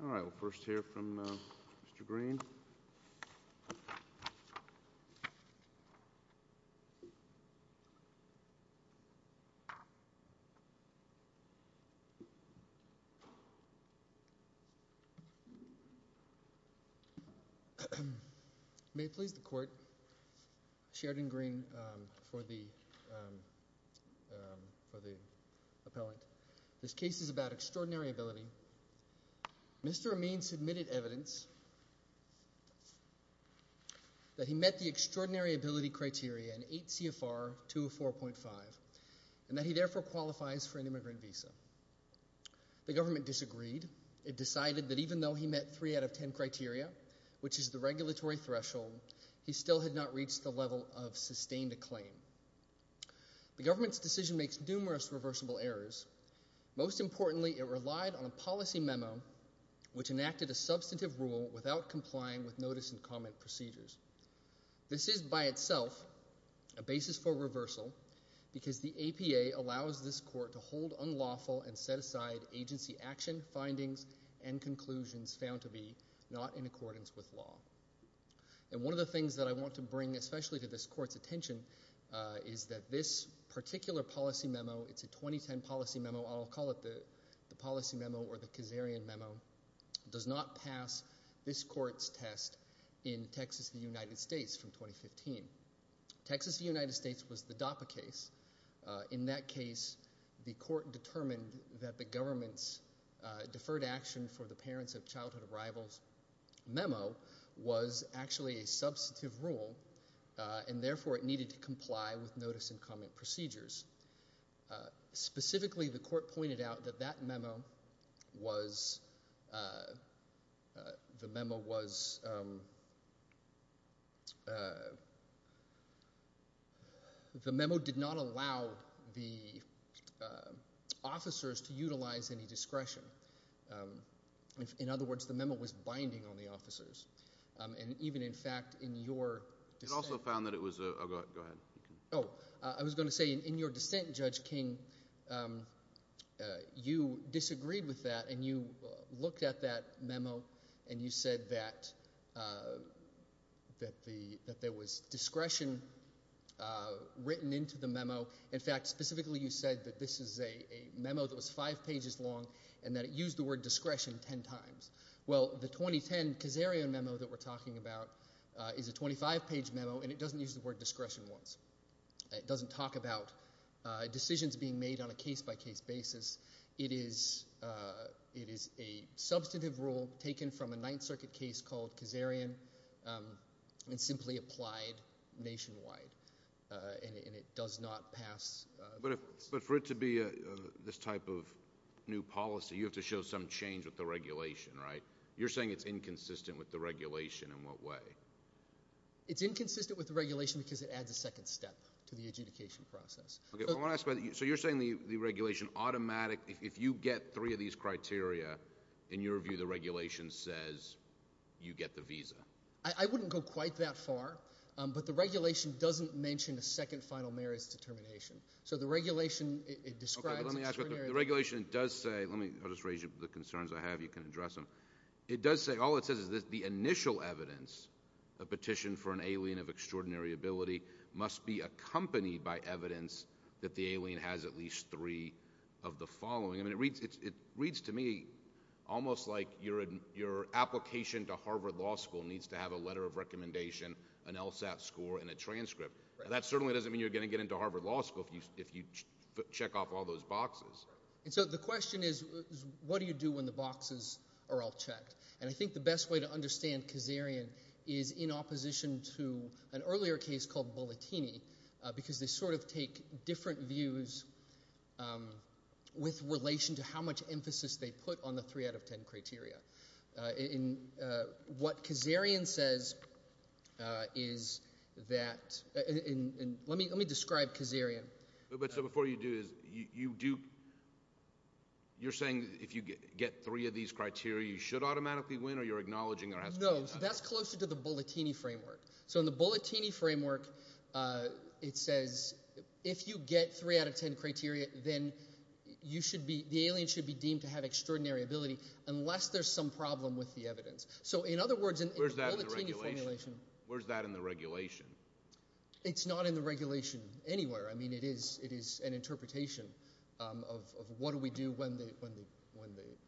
All right, we'll first hear from Mr. Green. May it please the court, Sheridan Green for the appellant. This case is about extraordinary ability. Mr. Amin submitted evidence that he met the extraordinary ability criteria in 8 CFR 204.5 and that he therefore qualifies for an immigrant visa. The government disagreed. It decided that even though he met three out of ten criteria, which is the regulatory threshold, he still had not reached the level of sustained acclaim. The government's decision makes numerous reversible errors. Most importantly, it relied on a policy memo, which enacted a substantive rule without complying with notice and comment procedures. This is by itself a basis for reversal because the APA allows this court to hold unlawful and set aside agency action findings and conclusions found to be not in accordance with law. And one of the things that I want to bring especially to this court's attention is that this particular policy memo, it's a 2010 policy memo, I'll call it the policy memo or the Kazarian memo, does not pass this court's test in Texas, the United States from 2015. Texas, the United States was the DAPA case. In that case, the court determined that the government's deferred action for the parents of childhood arrivals memo was actually a substantive rule and therefore it needed to comply with notice and comment procedures. Specifically, the court pointed out that that memo was, the memo was, the memo did not allow the officers to utilize any discretion. In other words, the memo was binding on the officers. And even in fact, in your. It also found that it was a, go ahead. Oh, I was going to say in your dissent, Judge King, you disagreed with that and you looked at that memo and you said that the, that there was discretion written into the memo. In fact, specifically you said that this is a memo that was 5 pages long and that it used the word discretion 10 times. Well, the 2010 Kazarian memo that we're talking about is a 25 page memo and it doesn't use the word discretion once. It doesn't talk about decisions being made on a case by case basis. It is a substantive rule taken from a Ninth Circuit case called Kazarian and simply applied nationwide and it does not pass. But for it to be this type of new policy, you have to show some change with the regulation, right? You're saying it's inconsistent with the regulation in what way? It's inconsistent with the regulation because it adds a second step to the adjudication process. Okay, I want to ask about, so you're saying the regulation automatic, if you get three of these criteria, in your view, the regulation says you get the visa? I wouldn't go quite that far, but the regulation doesn't mention a second final merits determination. So the regulation, it describes. The regulation does say, let me just raise the concerns I have, you can address them. It does say, all it says is the initial evidence, a petition for an alien of extraordinary ability must be accompanied by evidence that the alien has at least three of the following. I mean, it reads to me almost like your application to Harvard Law School needs to have a letter of recommendation, an LSAT score and a transcript. That certainly doesn't mean you're going to get into Harvard Law School if you check off all those boxes. And so the question is, what do you do when the boxes are all checked? And I think the best way to understand Kazarian is in opposition to an earlier case called Bolotini because they sort of take different views with relation to how much emphasis they put on the three out of ten criteria. And what Kazarian says is that, and let me describe Kazarian. But so before you do this, you do, you're saying that if you get three of these criteria you should automatically win or you're acknowledging there has to be. No, that's closer to the Bolotini framework. So in the Bolotini framework, it says if you get three out of ten criteria, then you should be, the alien should be deemed to have extraordinary ability, unless there's some problem with the evidence. So in other words, in the Bolotini formulation. Where's that in the regulation? It's not in the regulation anywhere. I mean, it is an interpretation of what do we do when the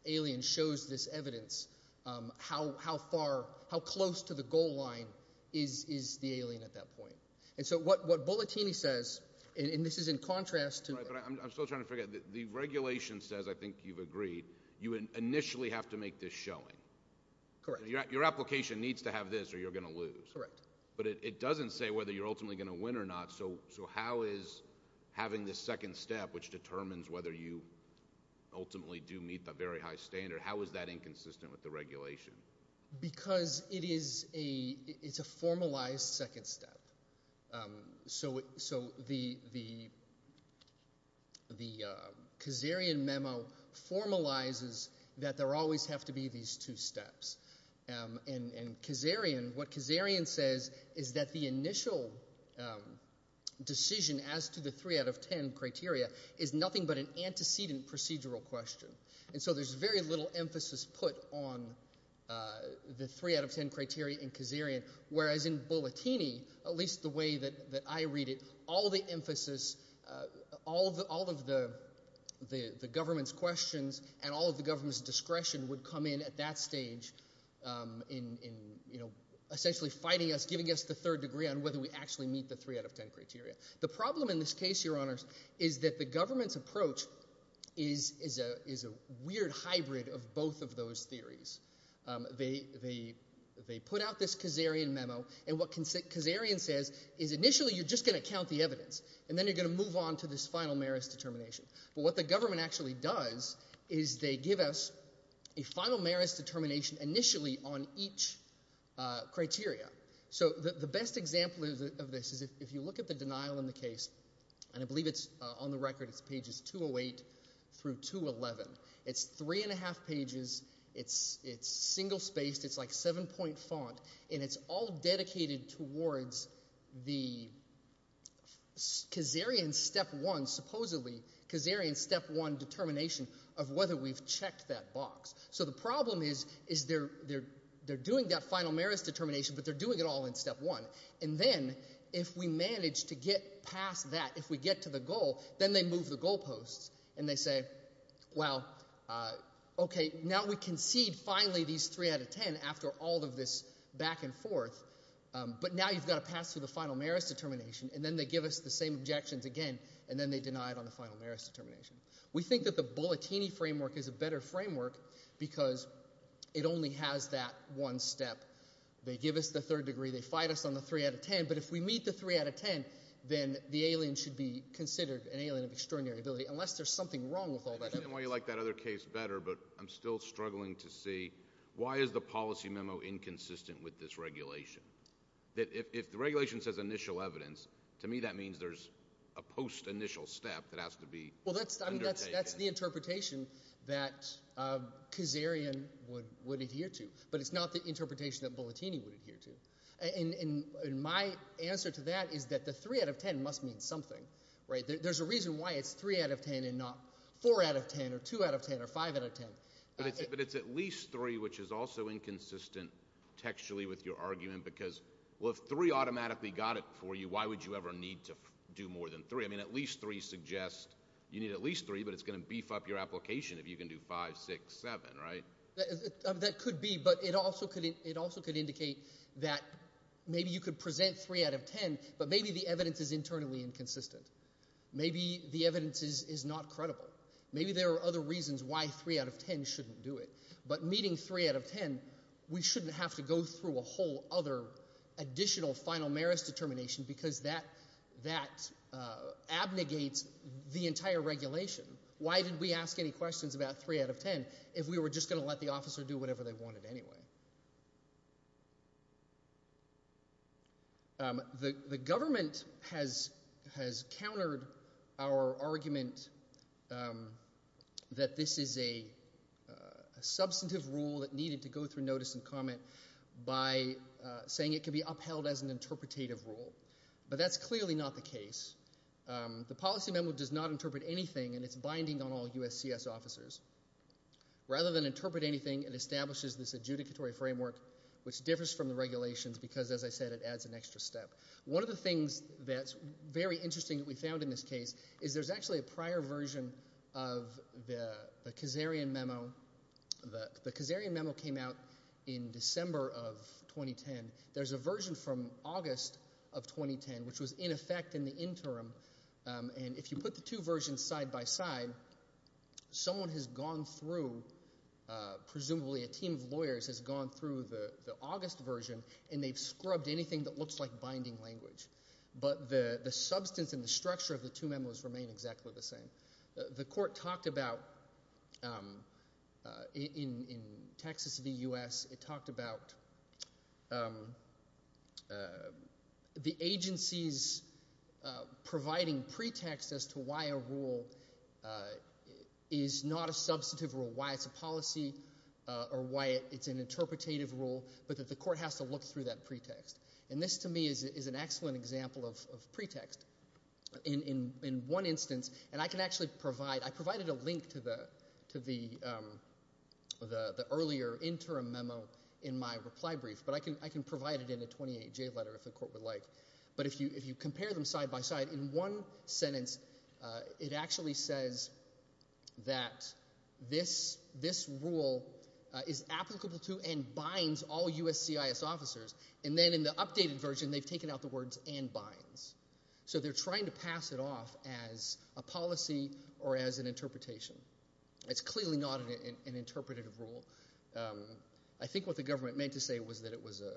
alien shows this evidence? How far, how close to the goal line is the alien at that point? And so what Bolotini says, and this is in contrast to. Right, but I'm still trying to figure out. The regulation says, I think you've agreed. You initially have to make this showing. Correct. Your application needs to have this or you're going to lose. Correct. But it doesn't say whether you're ultimately going to win or not. So how is having this second step, which determines whether you ultimately do meet that very high standard, how is that inconsistent with the regulation? Because it is a, it's a formalized second step. So, so the, the, the Kazarian memo formalizes that there always have to be these two steps. And, and Kazarian, what Kazarian says is that the initial decision as to the three out of ten criteria is nothing but an antecedent procedural question. And so there's very little emphasis put on the three out of ten criteria in Kazarian. Whereas in Bolotini, at least the way that, that I read it, all the emphasis, all the, all of the, the, the government's questions and all of the government's discretion would come in at that stage in, in, you know, essentially fighting us, giving us the third degree on whether we actually meet the three out of ten criteria. The problem in this case, your honors, is that the government's approach is, is a, is a weird hybrid of both of those theories. They, they, they put out this Kazarian memo, and what Kazarian says is initially you're just going to count the evidence, and then you're going to move on to this final meris determination. But what the government actually does is they give us a final meris determination initially on each criteria, so the, the best example of this is if, if you look at the denial in the case, and I believe it's on the record, it's pages 208 through 211. It's three and a half pages, it's, it's single spaced, it's like seven point font, and it's all dedicated towards the Kazarian step one, supposedly, Kazarian step one determination of whether we've checked that box. So the problem is, is they're, they're, they're doing that final meris determination, but they're doing it all in step one. And then, if we manage to get past that, if we get to the goal, then they move the goal posts, and they say, well, okay, now we concede finally these three out of ten after all of this back and forth, but now you've got to pass through the final meris determination, and then they give us the same objections again, and then they deny it on the final meris determination. We think that the bulletini framework is a better framework because it only has that one step. They give us the third degree, they fight us on the three out of ten, but if we meet the three out of ten, then the alien should be considered an alien of extraordinary ability, unless there's something wrong with all that evidence. I understand why you like that other case better, but I'm still struggling to see, why is the policy memo inconsistent with this regulation? That if, if the regulation says initial evidence, to me that means there's a post-initial step that has to be undertaken. Well, that's, I mean, that's, that's the interpretation that Kazarian would, would adhere to, but it's not the interpretation that bulletini would adhere to. And, and, and my answer to that is that the three out of ten must mean something, right? There's a reason why it's three out of ten and not four out of ten, or two out of ten, or five out of ten. But it's, but it's at least three, which is also inconsistent textually with your argument, because, well, if three automatically got it for you, why would you ever need to do more than three? I mean, at least three suggests, you need at least three, but it's going to beef up your application if you can do five, six, seven, right? That, that could be, but it also could, it also could indicate that maybe you could present three out of ten, but maybe the evidence is internally inconsistent. Maybe the evidence is, is not credible. Maybe there are other reasons why three out of ten shouldn't do it, but meeting three out of ten, we shouldn't have to go through a whole other additional final merits determination, because that, that abnegates the entire regulation. Why did we ask any questions about three out of ten if we were just going to let the officer do whatever they wanted anyway? The, the government has, has countered our argument that this is a, a substantive rule that needed to go through notice and comment by saying it could be upheld as an interpretative rule, but that's clearly not the case. The policy memo does not interpret anything, and it's binding on all USCIS officers. Rather than interpret anything, it establishes this adjudicatory framework, which differs from the regulations, because as I said, it adds an extra step. One of the things that's very interesting that we found in this case is there's actually a prior version of the, the Kazarian memo. The, the Kazarian memo came out in December of 2010. There's a version from August of 2010, which was in effect in the interim, and if you put the two versions side by side, someone has gone through, presumably a team of lawyers has gone through the, the August version, and they've scrubbed anything that looks like binding language. But the, the substance and the structure of the two memos remain exactly the same. The, the court talked about, in, in Texas v. U.S., it talked about the agency's providers providing pretext as to why a rule is not a substantive rule, why it's a policy, or why it's an interpretative rule, but that the court has to look through that pretext. And this, to me, is, is an excellent example of, of pretext. In, in, in one instance, and I can actually provide, I provided a link to the, to the, the, the earlier interim memo in my reply brief, but I can, I can provide it in a 28-J letter if the court would like. But if you, if you compare them side by side, in one sentence, it actually says that this, this rule is applicable to and binds all U.S. CIS officers, and then in the updated version, they've taken out the words and binds. So they're trying to pass it off as a policy or as an interpretation. It's clearly not an, an interpretative rule. I think what the government meant to say was that it was a,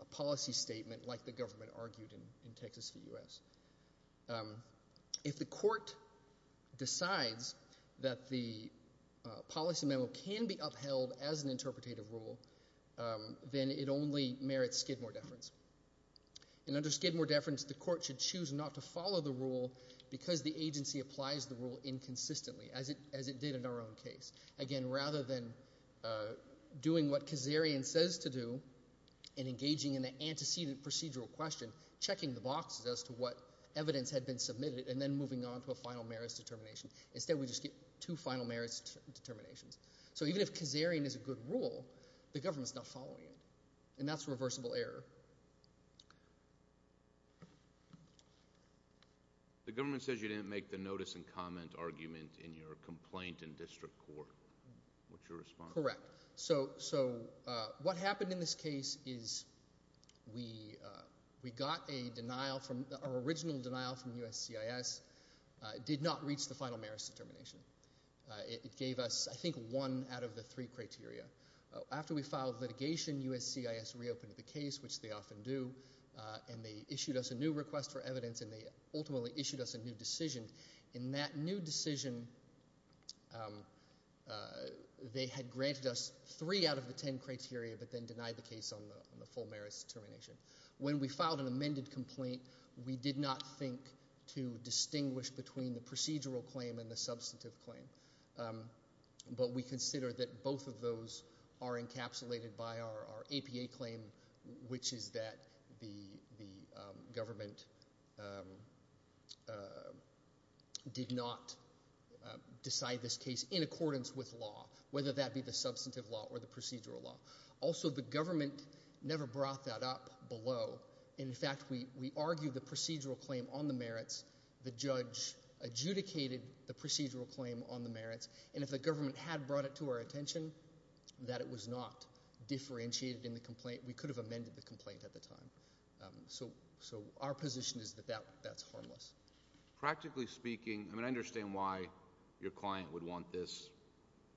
a policy statement like the government argued in, in Texas v. U.S. If the court decides that the policy memo can be upheld as an interpretative rule, then it only merits Skidmore deference. And under Skidmore deference, the court should choose not to follow the rule because the agency applies the rule inconsistently, as it, as it did in our own case. Again, rather than doing what Kazarian says to do and engaging in the antecedent procedural question, checking the boxes as to what evidence had been submitted and then moving on to a final merits determination. Instead, we just get two final merits determinations. So even if Kazarian is a good rule, the government's not following it. And that's a reversible error. The government says you didn't make the notice and comment argument in your complaint in district court. What's your response? Correct. So, so what happened in this case is we, we got a denial from, our original denial from USCIS did not reach the final merits determination. It, it gave us, I think, one out of the three criteria. After we filed litigation, USCIS reopened the case, which they often do. And they issued us a new request for evidence and they ultimately issued us a new decision. In that new decision, they had granted us three out of the ten criteria but then denied the case on the, on the full merits determination. When we filed an amended complaint, we did not think to distinguish between the procedural claim and the substantive claim. But we consider that both of those are encapsulated by our, our APA claim, which is that the, the government did not decide this case in accordance with law. Whether that be the substantive law or the procedural law. Also, the government never brought that up below. In fact, we, we argued the procedural claim on the merits. The judge adjudicated the procedural claim on the merits. And if the government had brought it to our attention, that it was not differentiated in the complaint. We could have amended the complaint at the time. So, so our position is that that, that's harmless. Practically speaking, I mean, I understand why your client would want this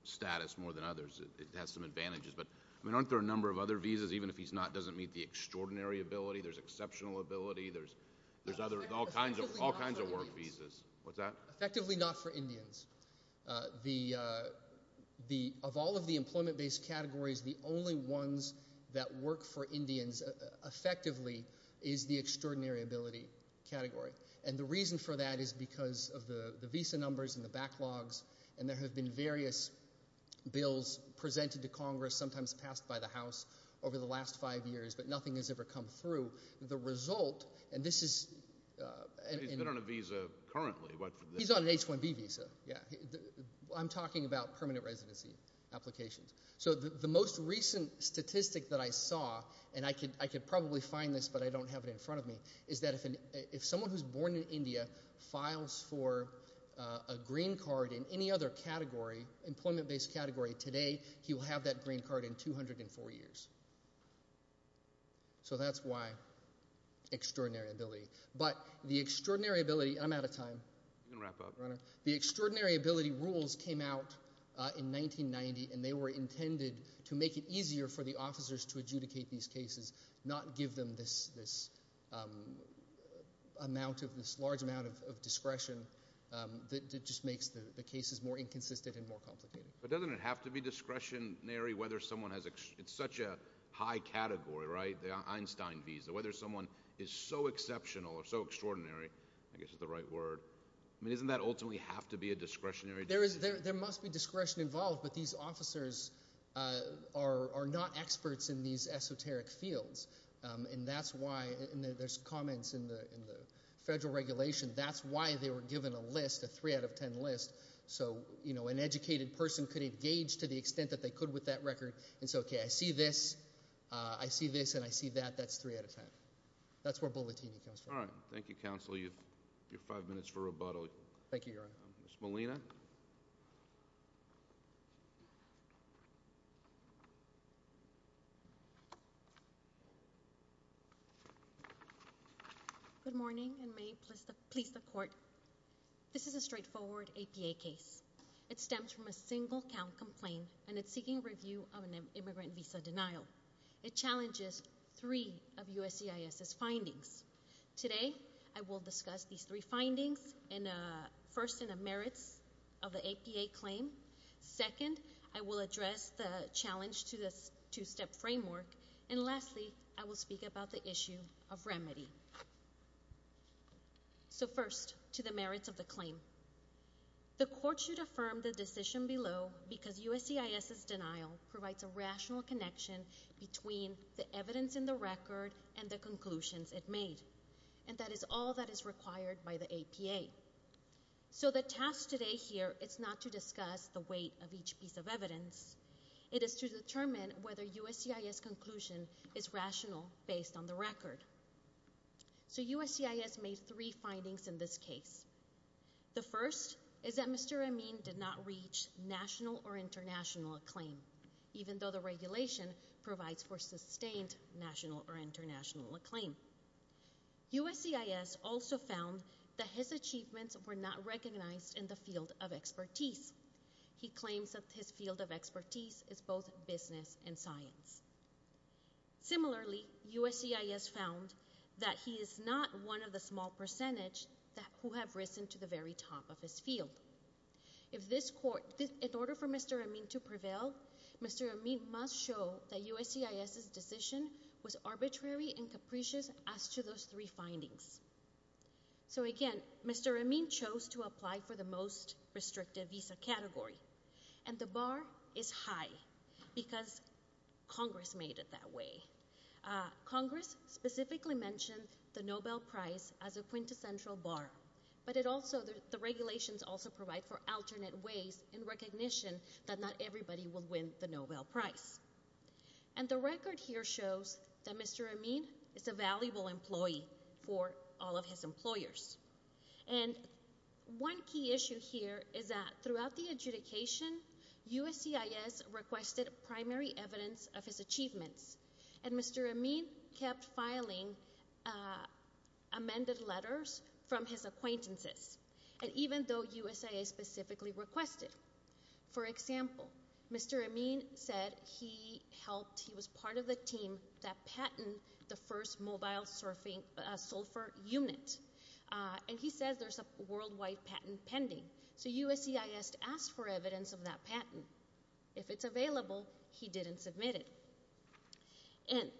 status more than others. It has some advantages. But, I mean, aren't there a number of other visas? Even if he's not, doesn't meet the extraordinary ability. There's exceptional ability. There's, there's other, all kinds of, all kinds of work visas. What's that? Effectively not for Indians. The, the, of all of the employment-based categories, the only ones that work for Indians effectively is the extraordinary ability category. And the reason for that is because of the, the visa numbers and the backlogs. And there have been various bills presented to Congress, sometimes passed by the House, over the last five years. But nothing has ever come through. The result, and this is. And he's been on a visa currently. What. He's on an H-1B visa. Yeah. I'm talking about permanent residency applications. So the, the most recent statistic that I saw, and I could, I could probably find this, but I don't have it in front of me, is that if an, if someone who's born in India files for a green card in any other category, employment-based category, today he will have that green card in 204 years. So that's why extraordinary ability. But the extraordinary ability, and I'm out of time. You can wrap up. The extraordinary ability rules came out in 1990, and they were intended to make it easier for the officers to adjudicate these cases, not give them this, this amount of, this large amount of, of discretion. That just makes the, the cases more inconsistent and more complicated. But doesn't it have to be discretionary whether someone has, it's such a high category, right? The Einstein visa. Whether someone is so exceptional or so extraordinary, I guess is the right word. I mean, doesn't that ultimately have to be a discretionary? There is, there, there must be discretion involved, but these officers are, are not experts in these esoteric fields. And that's why, and there's comments in the, in the federal regulation. That's why they were given a list, a three out of ten list. So, you know, an educated person could engage to the extent that they could with that record. And so, okay, I see this, I see this, and I see that. That's three out of ten. That's where bulletin comes from. All right. Thank you, counsel. You have your five minutes for rebuttal. Thank you, Your Honor. Ms. Molina. Good morning, and may it please the, please the court. This is a straightforward APA case. It stems from a single count complaint, and it's seeking review of an immigrant visa denial. It challenges three of USCIS's findings. Today, I will discuss these three findings, and first in the merits of the APA claim. Second, I will address the challenge to this two-step framework. And lastly, I will speak about the issue of remedy. So first, to the merits of the claim. The court should affirm the decision below because USCIS's denial provides a rational connection between the evidence in the record and the conclusions it made. And that is all that is required by the APA. So the task today here is not to discuss the weight of each piece of evidence. It is to determine whether USCIS conclusion is rational based on the record. So USCIS made three findings in this case. The first is that Mr. Amin did not reach national or international acclaim, even though the regulation provides for sustained national or international acclaim. USCIS also found that his achievements were not recognized in the field of expertise. He claims that his field of expertise is both business and science. Similarly, USCIS found that he is not one of the small percentage that who have risen to the very top of his field. If this court, in order for Mr. Amin to prevail, Mr. Amin must show that USCIS's decision was arbitrary and capricious as to those three findings. So again, Mr. Amin chose to apply for the most restrictive visa category. And the bar is high because Congress made it that way. Congress specifically mentioned the Nobel Prize as a quintessential bar. But it also, the regulations also provide for alternate ways in recognition that not everybody will win the Nobel Prize. And the record here shows that Mr. Amin is a valuable employee for all of his employers. And one key issue here is that throughout the adjudication, USCIS requested primary evidence of his achievements. And Mr. Amin kept filing amended letters from his acquaintances. And even though USIA specifically requested. For example, Mr. Amin said he helped, he was part of the team that patented the first mobile surfing sulfur unit. And he says there's a worldwide patent pending. So USCIS asked for evidence of that patent. If it's available, he didn't submit it. And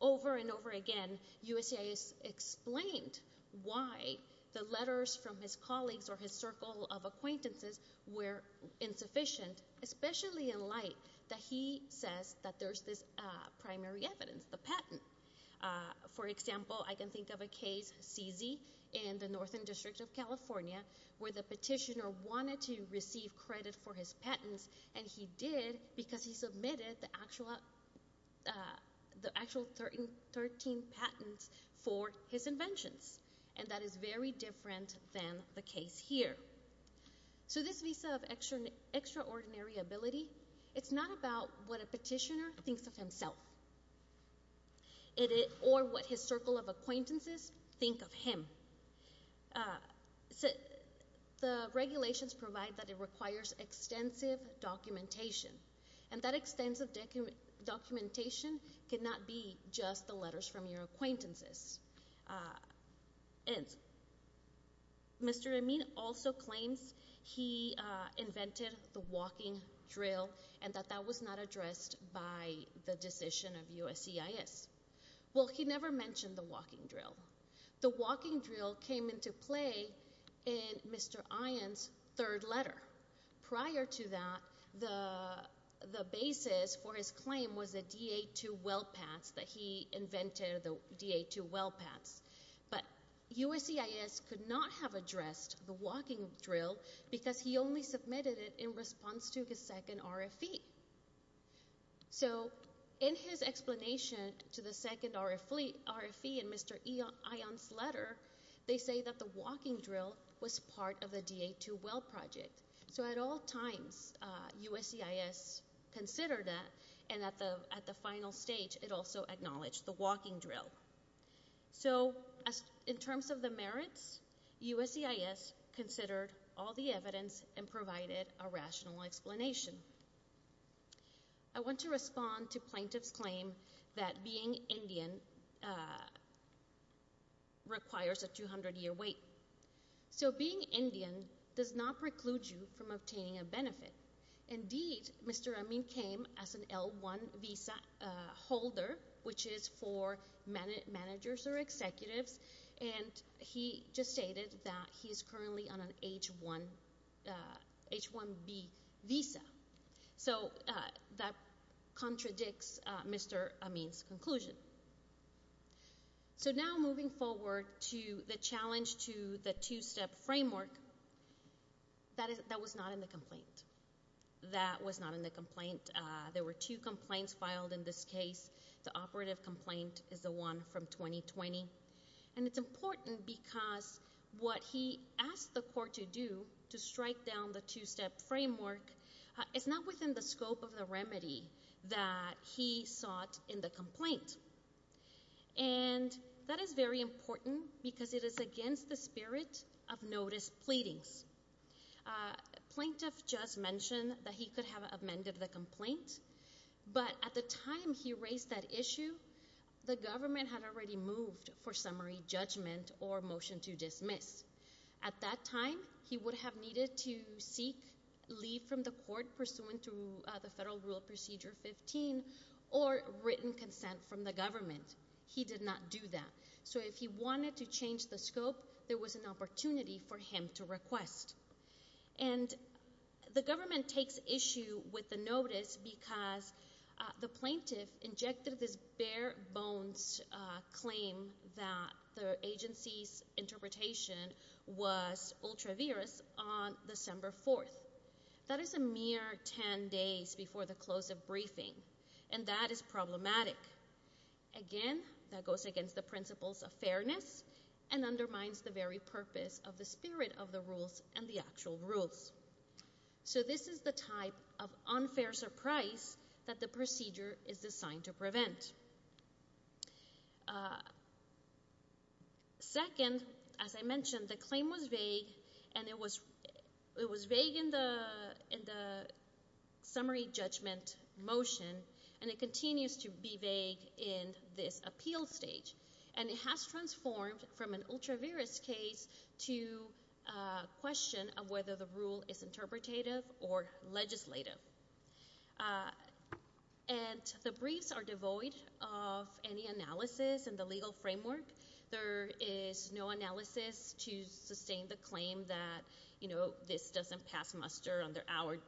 over and over again, USCIS explained why the letters from his colleagues or his circle of acquaintances were insufficient, especially in light that he says that there's this primary evidence, the patent. For example, I can think of a case, CZ, in the Northern District of California where the petitioner wanted to receive credit for his patents. And he did because he submitted the actual 13 patents for his inventions. And that is very different than the case here. So this Visa of Extraordinary Ability, it's not about what a petitioner thinks of himself. Or what his circle of acquaintances think of him. The regulations provide that it requires extensive documentation. And that extensive documentation cannot be just the letters from your acquaintances. And Mr. Amin also claims he invented the walking drill and that that was not addressed by the decision of USCIS. Well, he never mentioned the walking drill. The walking drill came into play in Mr. Ion's third letter. Prior to that, the basis for his claim was the DA2 well pads that he invented the DA2 well pads. But USCIS could not have addressed the walking drill because he only submitted it in response to his second RFE. So in his explanation to the second RFE in Mr. Ion's letter, they say that the walking drill was part of the DA2 well project. So at all times, USCIS considered that. And at the final stage, it also acknowledged the walking drill. So in terms of the merits, USCIS considered all the evidence and provided a rational explanation. I want to respond to plaintiff's claim that being Indian requires a 200-year wait. So being Indian does not preclude you from obtaining a benefit. Indeed, Mr. Amin came as an L1 visa holder, which is for managers or executives. And he just stated that he is currently on an H1B visa. So that contradicts Mr. Amin's conclusion. So now moving forward to the challenge to the two-step framework, that was not in the complaint. That was not in the complaint. There were two complaints filed in this case. The operative complaint is the one from 2020. And it's important because what he asked the court to do to strike down the two-step framework is not within the scope of the remedy that he sought in the complaint. And that is very important because it is against the spirit of notice pleadings. Plaintiff just mentioned that he could have amended the complaint. But at the time he raised that issue, the government had already moved for summary judgment or motion to dismiss. At that time, he would have needed to seek leave from the court pursuant to the Federal Rule Procedure 15 or written consent from the government. He did not do that. So if he wanted to change the scope, there was an opportunity for him to request. And the government takes issue with the notice because the plaintiff injected this bare-bones claim that the agency's interpretation was ultra-virus on December 4th. That is a mere 10 days before the close of briefing. And that is problematic. Again, that goes against the principles of fairness and undermines the very purpose of the spirit of the rules and the actual rules. So this is the type of unfair surprise that the procedure is designed to prevent. Second, as I mentioned, the claim was vague and it was vague in the summary judgment motion and it continues to be vague in this appeal stage. And it has transformed from an ultra-virus case to a question of whether the rule is interpretative or legislative. And the briefs are devoid of any analysis in the legal framework. There is no analysis to sustain the claim that, you know, this doesn't pass muster under our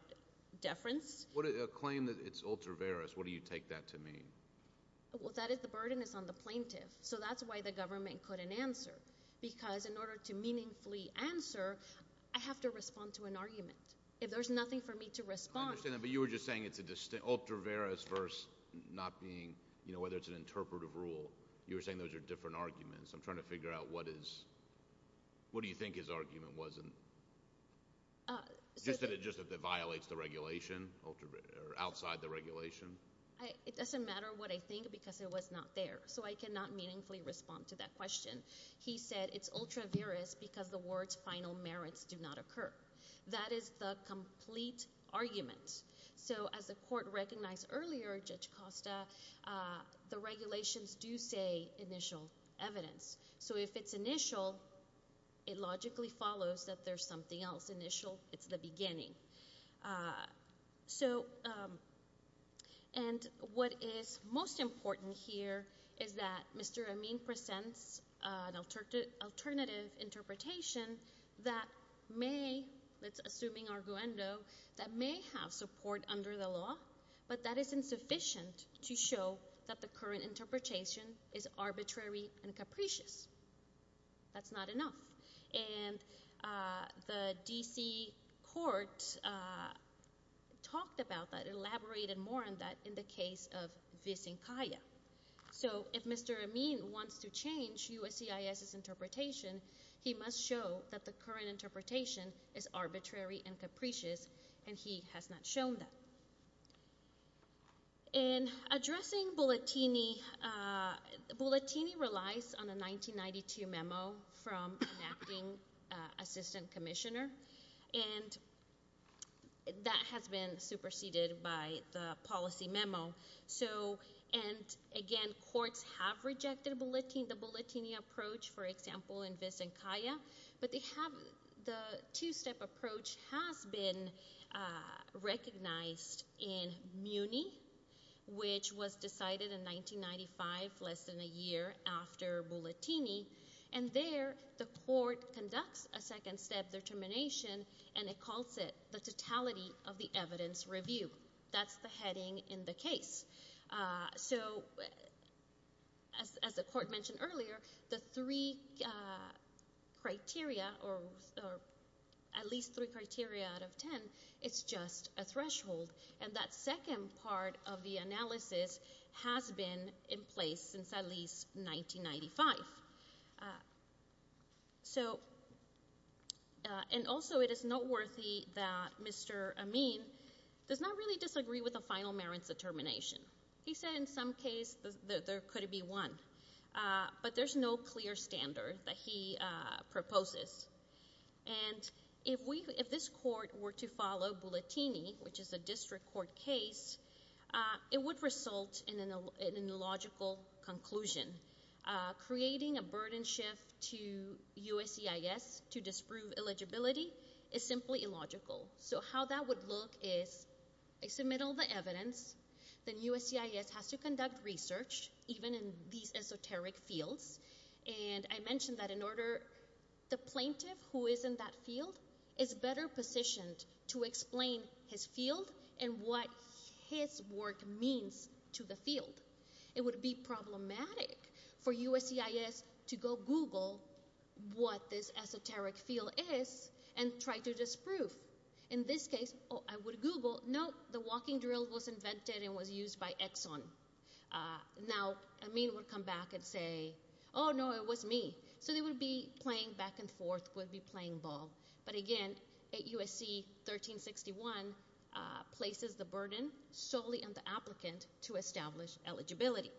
deference. A claim that it's ultra-virus, what do you take that to mean? Well, that is the burden is on the plaintiff. So that's why the government couldn't answer. Because in order to meaningfully answer, I have to respond to an argument. If there's nothing for me to respond. I understand that. But you were just saying it's an ultra-virus versus not being, you know, whether it's an interpretative rule. You were saying those are different arguments. I'm trying to figure out what is, what do you think his argument was in, just that it violates the regulation, ultra-virus, or outside the regulation. It doesn't matter what I think because it was not there. So I cannot meaningfully respond to that question. He said it's ultra-virus because the word's final merits do not occur. That is the complete argument. So as the court recognized earlier, Judge Costa, the regulations do say initial evidence. So if it's initial, it logically follows that there's something else initial. It's the beginning. So and what is most important here is that Mr. Amin presents an alternative interpretation that may, let's assume in our guendo, that may have support under the law. But that is insufficient to show that the current interpretation is arbitrary and capricious, that's not enough. And the DC court talked about that, elaborated more on that in the case of Visinkaya. So if Mr. Amin wants to change USCIS's interpretation, he must show that the current interpretation is arbitrary and capricious, and he has not shown that. In addressing Bulletini, Bulletini relies on a 1992 memo from an acting assistant commissioner. And that has been superseded by the policy memo. So, and again, courts have rejected the Bulletini approach, for example, in Visinkaya, but they have, the two-step approach has been recognized in Muni, which was decided in 1995, less than a year after Bulletini, and there, the court conducts a second-step determination, and it calls it the Totality of the Evidence Review. That's the heading in the case. So, as the court mentioned earlier, the three criteria, or at least three criteria out of ten, it's just a threshold. And that second part of the analysis has been in place since at least 1995. So, and also it is noteworthy that Mr. Amin does not really disagree with the final merits determination. He said in some case there could be one, but there's no clear standard that he proposes. And if we, if this court were to follow Bulletini, which is a district court case, it would result in an illogical conclusion. Creating a burden shift to USCIS to disprove eligibility is simply illogical. So how that would look is, I submit all the evidence, then USCIS has to conduct research, even in these esoteric fields. And I mentioned that in order, the plaintiff who is in that field is better positioned to explain his field and what his work means to the field. It would be problematic for USCIS to go Google what this esoteric field is and try to disprove. In this case, I would Google, nope, the walking drill was invented and was used by Exxon. Now, Amin would come back and say, no, it was me. So they would be playing back and forth, would be playing ball. But again, USC 1361 places the burden solely on the applicant to establish eligibility.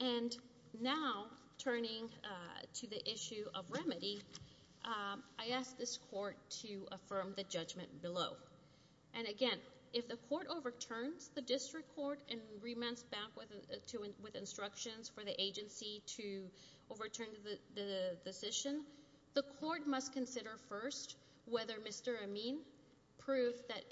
And now, turning to the issue of remedy, I ask this court to affirm the judgment below. And again, if the court overturns the district court and remands back with instructions for the agency to overturn the decision, the court must consider first whether Mr. Amin proved that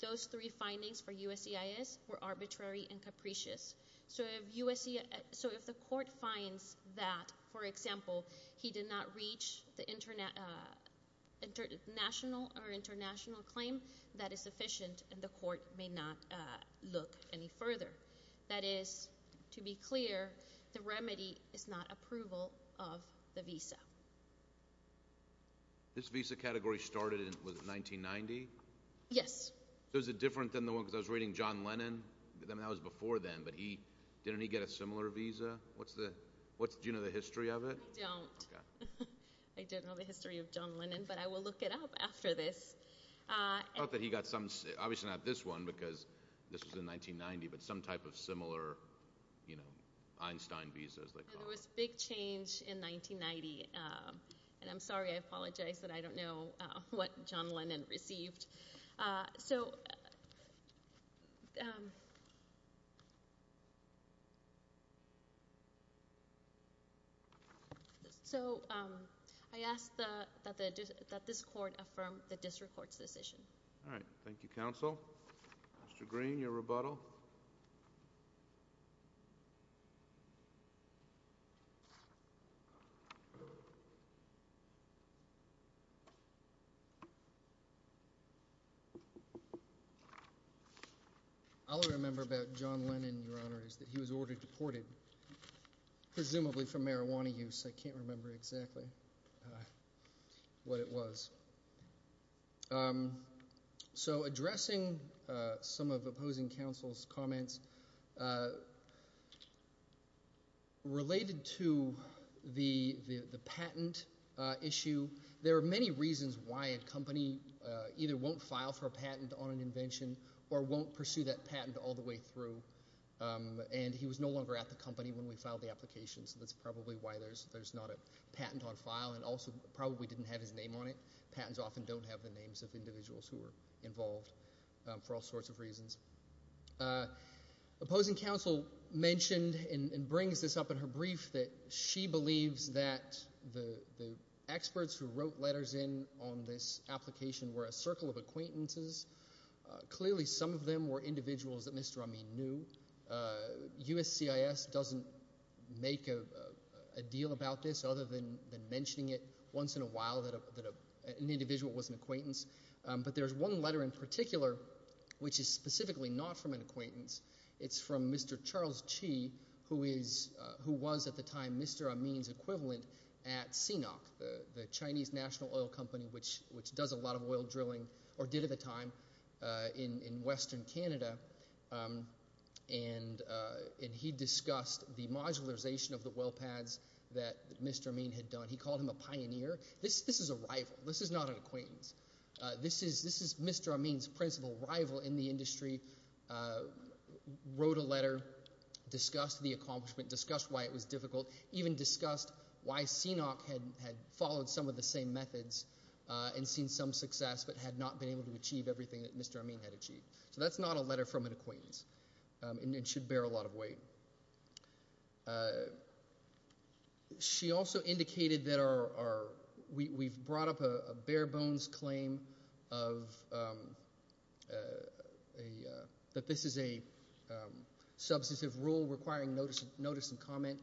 those three findings for USCIS were arbitrary and capricious. So if USCIS, so if the court finds that, for example, he did not reach the international claim, that is sufficient and the court may not look any further. That is, to be clear, the remedy is not approval of the visa. This visa category started in, what, 1990? Yes. So is it different than the one, because I was reading John Lennon. I mean, that was before then, but he, didn't he get a similar visa? What's the, what's, do you know the history of it? I don't. Okay. I don't know the history of John Lennon, but I will look it up after this. I thought that he got some, obviously not this one, because this was in 1990, but some type of similar, you know, Einstein visas, like. And there was big change in 1990, and I'm sorry, I apologize that I don't know what John Lennon received. So So I ask that, that this court affirm the district court's decision. All right, thank you, counsel. Mr. Green, your rebuttal. I'll remember about John Lennon, your honor, is that he was ordered deported. Presumably for marijuana use. I can't remember exactly what it was. So addressing some of opposing counsel's comments. Related to the, the, the patent issue, there are many reasons why a company either won't file for a patent on an invention, or won't pursue that patent all the way through. And he was no longer at the company when we filed the application, so that's probably why there's, there's not a patent on file. And also, probably didn't have his name on it. Patents often don't have the names of individuals who are involved. For all sorts of reasons. Opposing counsel mentioned, and, and brings this up in her brief, that she were a circle of acquaintances. Clearly, some of them were individuals that Mr. Amin knew. USCIS doesn't make a, a deal about this, other than, than mentioning it once in a while, that a, that a, an individual was an acquaintance. But there's one letter in particular, which is specifically not from an acquaintance. It's from Mr. Charles Chee, who is, who was at the time Mr. Amin's equivalent at CNOC, the, the Chinese National Oil Company, which, which does a lot of oil drilling, or did at the time in, in Western Canada. And and he discussed the modularization of the well pads that Mr. Amin had done. He called him a pioneer. This, this is a rival. This is not an acquaintance. This is, this is Mr. Amin's principal rival in the industry. Wrote a letter. Discussed the accomplishment. Discussed why it was difficult. Even discussed why CNOC had, had followed some of the same methods. And seen some success, but had not been able to achieve everything that Mr. Amin had achieved. So that's not a letter from an acquaintance. And, and should bear a lot of weight. She also indicated that our, our, we, we've brought up a, a bare bones claim of a, that this is a substantive rule requiring notice, notice and comment.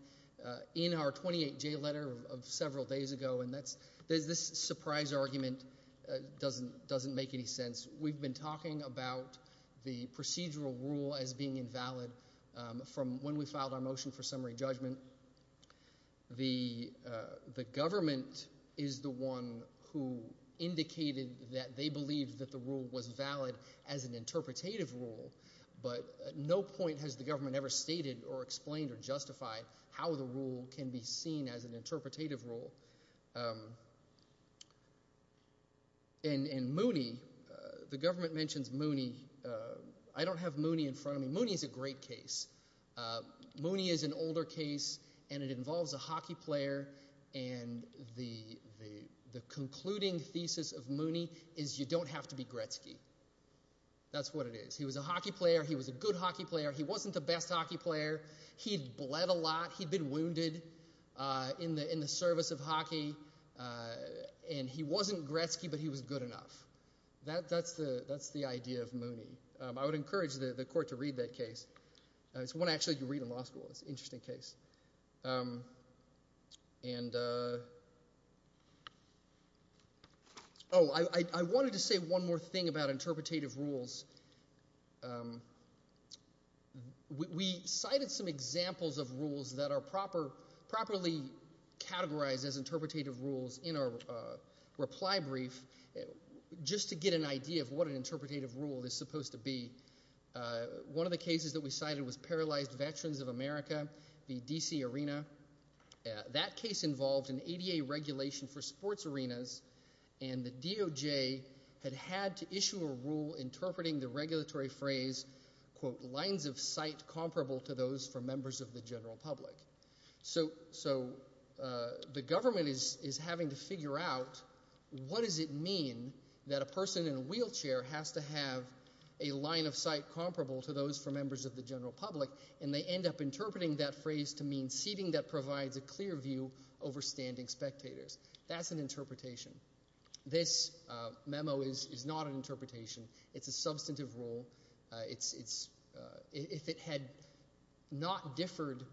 In our 28-J letter of, of several days ago. And that's, there's this surprise argument doesn't, doesn't make any sense. We've been talking about the procedural rule as being invalid. From when we filed our motion for summary judgment. The the government is the one who indicated that they believed that the rule was valid as an interpretative rule. But no point has the government ever stated or explained or And, and Mooney, the government mentions Mooney. I don't have Mooney in front of me. Mooney's a great case. Mooney is an older case, and it involves a hockey player. And the, the, the concluding thesis of Mooney is you don't have to be Gretzky. That's what it is. He was a hockey player. He was a good hockey player. He wasn't the best hockey player. He'd bled a lot. He'd been wounded in the, in the service of hockey. And he wasn't Gretzky, but he was good enough. That, that's the, that's the idea of Mooney. I would encourage the, the court to read that case. It's one actually you read in law school. It's an interesting case. And oh, I, I, I wanted to say one more thing about interpretative rules. We, we cited some examples of rules that are proper, properly categorized as interpretative rules in our reply brief, just to get an idea of what an interpretative rule is supposed to be. One of the cases that we cited was Paralyzed Veterans of America, the D.C. Arena. That case involved an ADA regulation for sports arenas, and the DOJ had had to issue a rule interpreting the regulatory phrase, quote, lines of sight comparable to those for members of the general public. So, so the government is, is having to figure out what does it mean that a person in a wheelchair has to have a line of sight comparable to those for members of the general public, and they end up interpreting that phrase to mean seating that provides a clear view over standing spectators. That's an interpretation. This memo is, is not an interpretation. It's a substantive rule. It's, it's, if it had not differed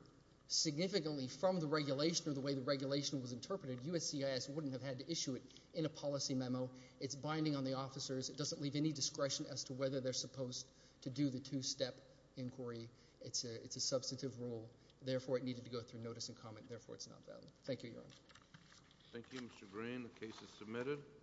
significantly from the regulation or the way the regulation was interpreted, USCIS wouldn't have had to issue it in a policy memo. It's binding on the officers. It doesn't leave any discretion as to whether they're supposed to do the two-step inquiry. It's a, it's a substantive rule. Therefore, it needed to go through notice and comment. Therefore, it's not valid. Thank you, Your Honor. Thank you, Mr. Green. The case is submitted.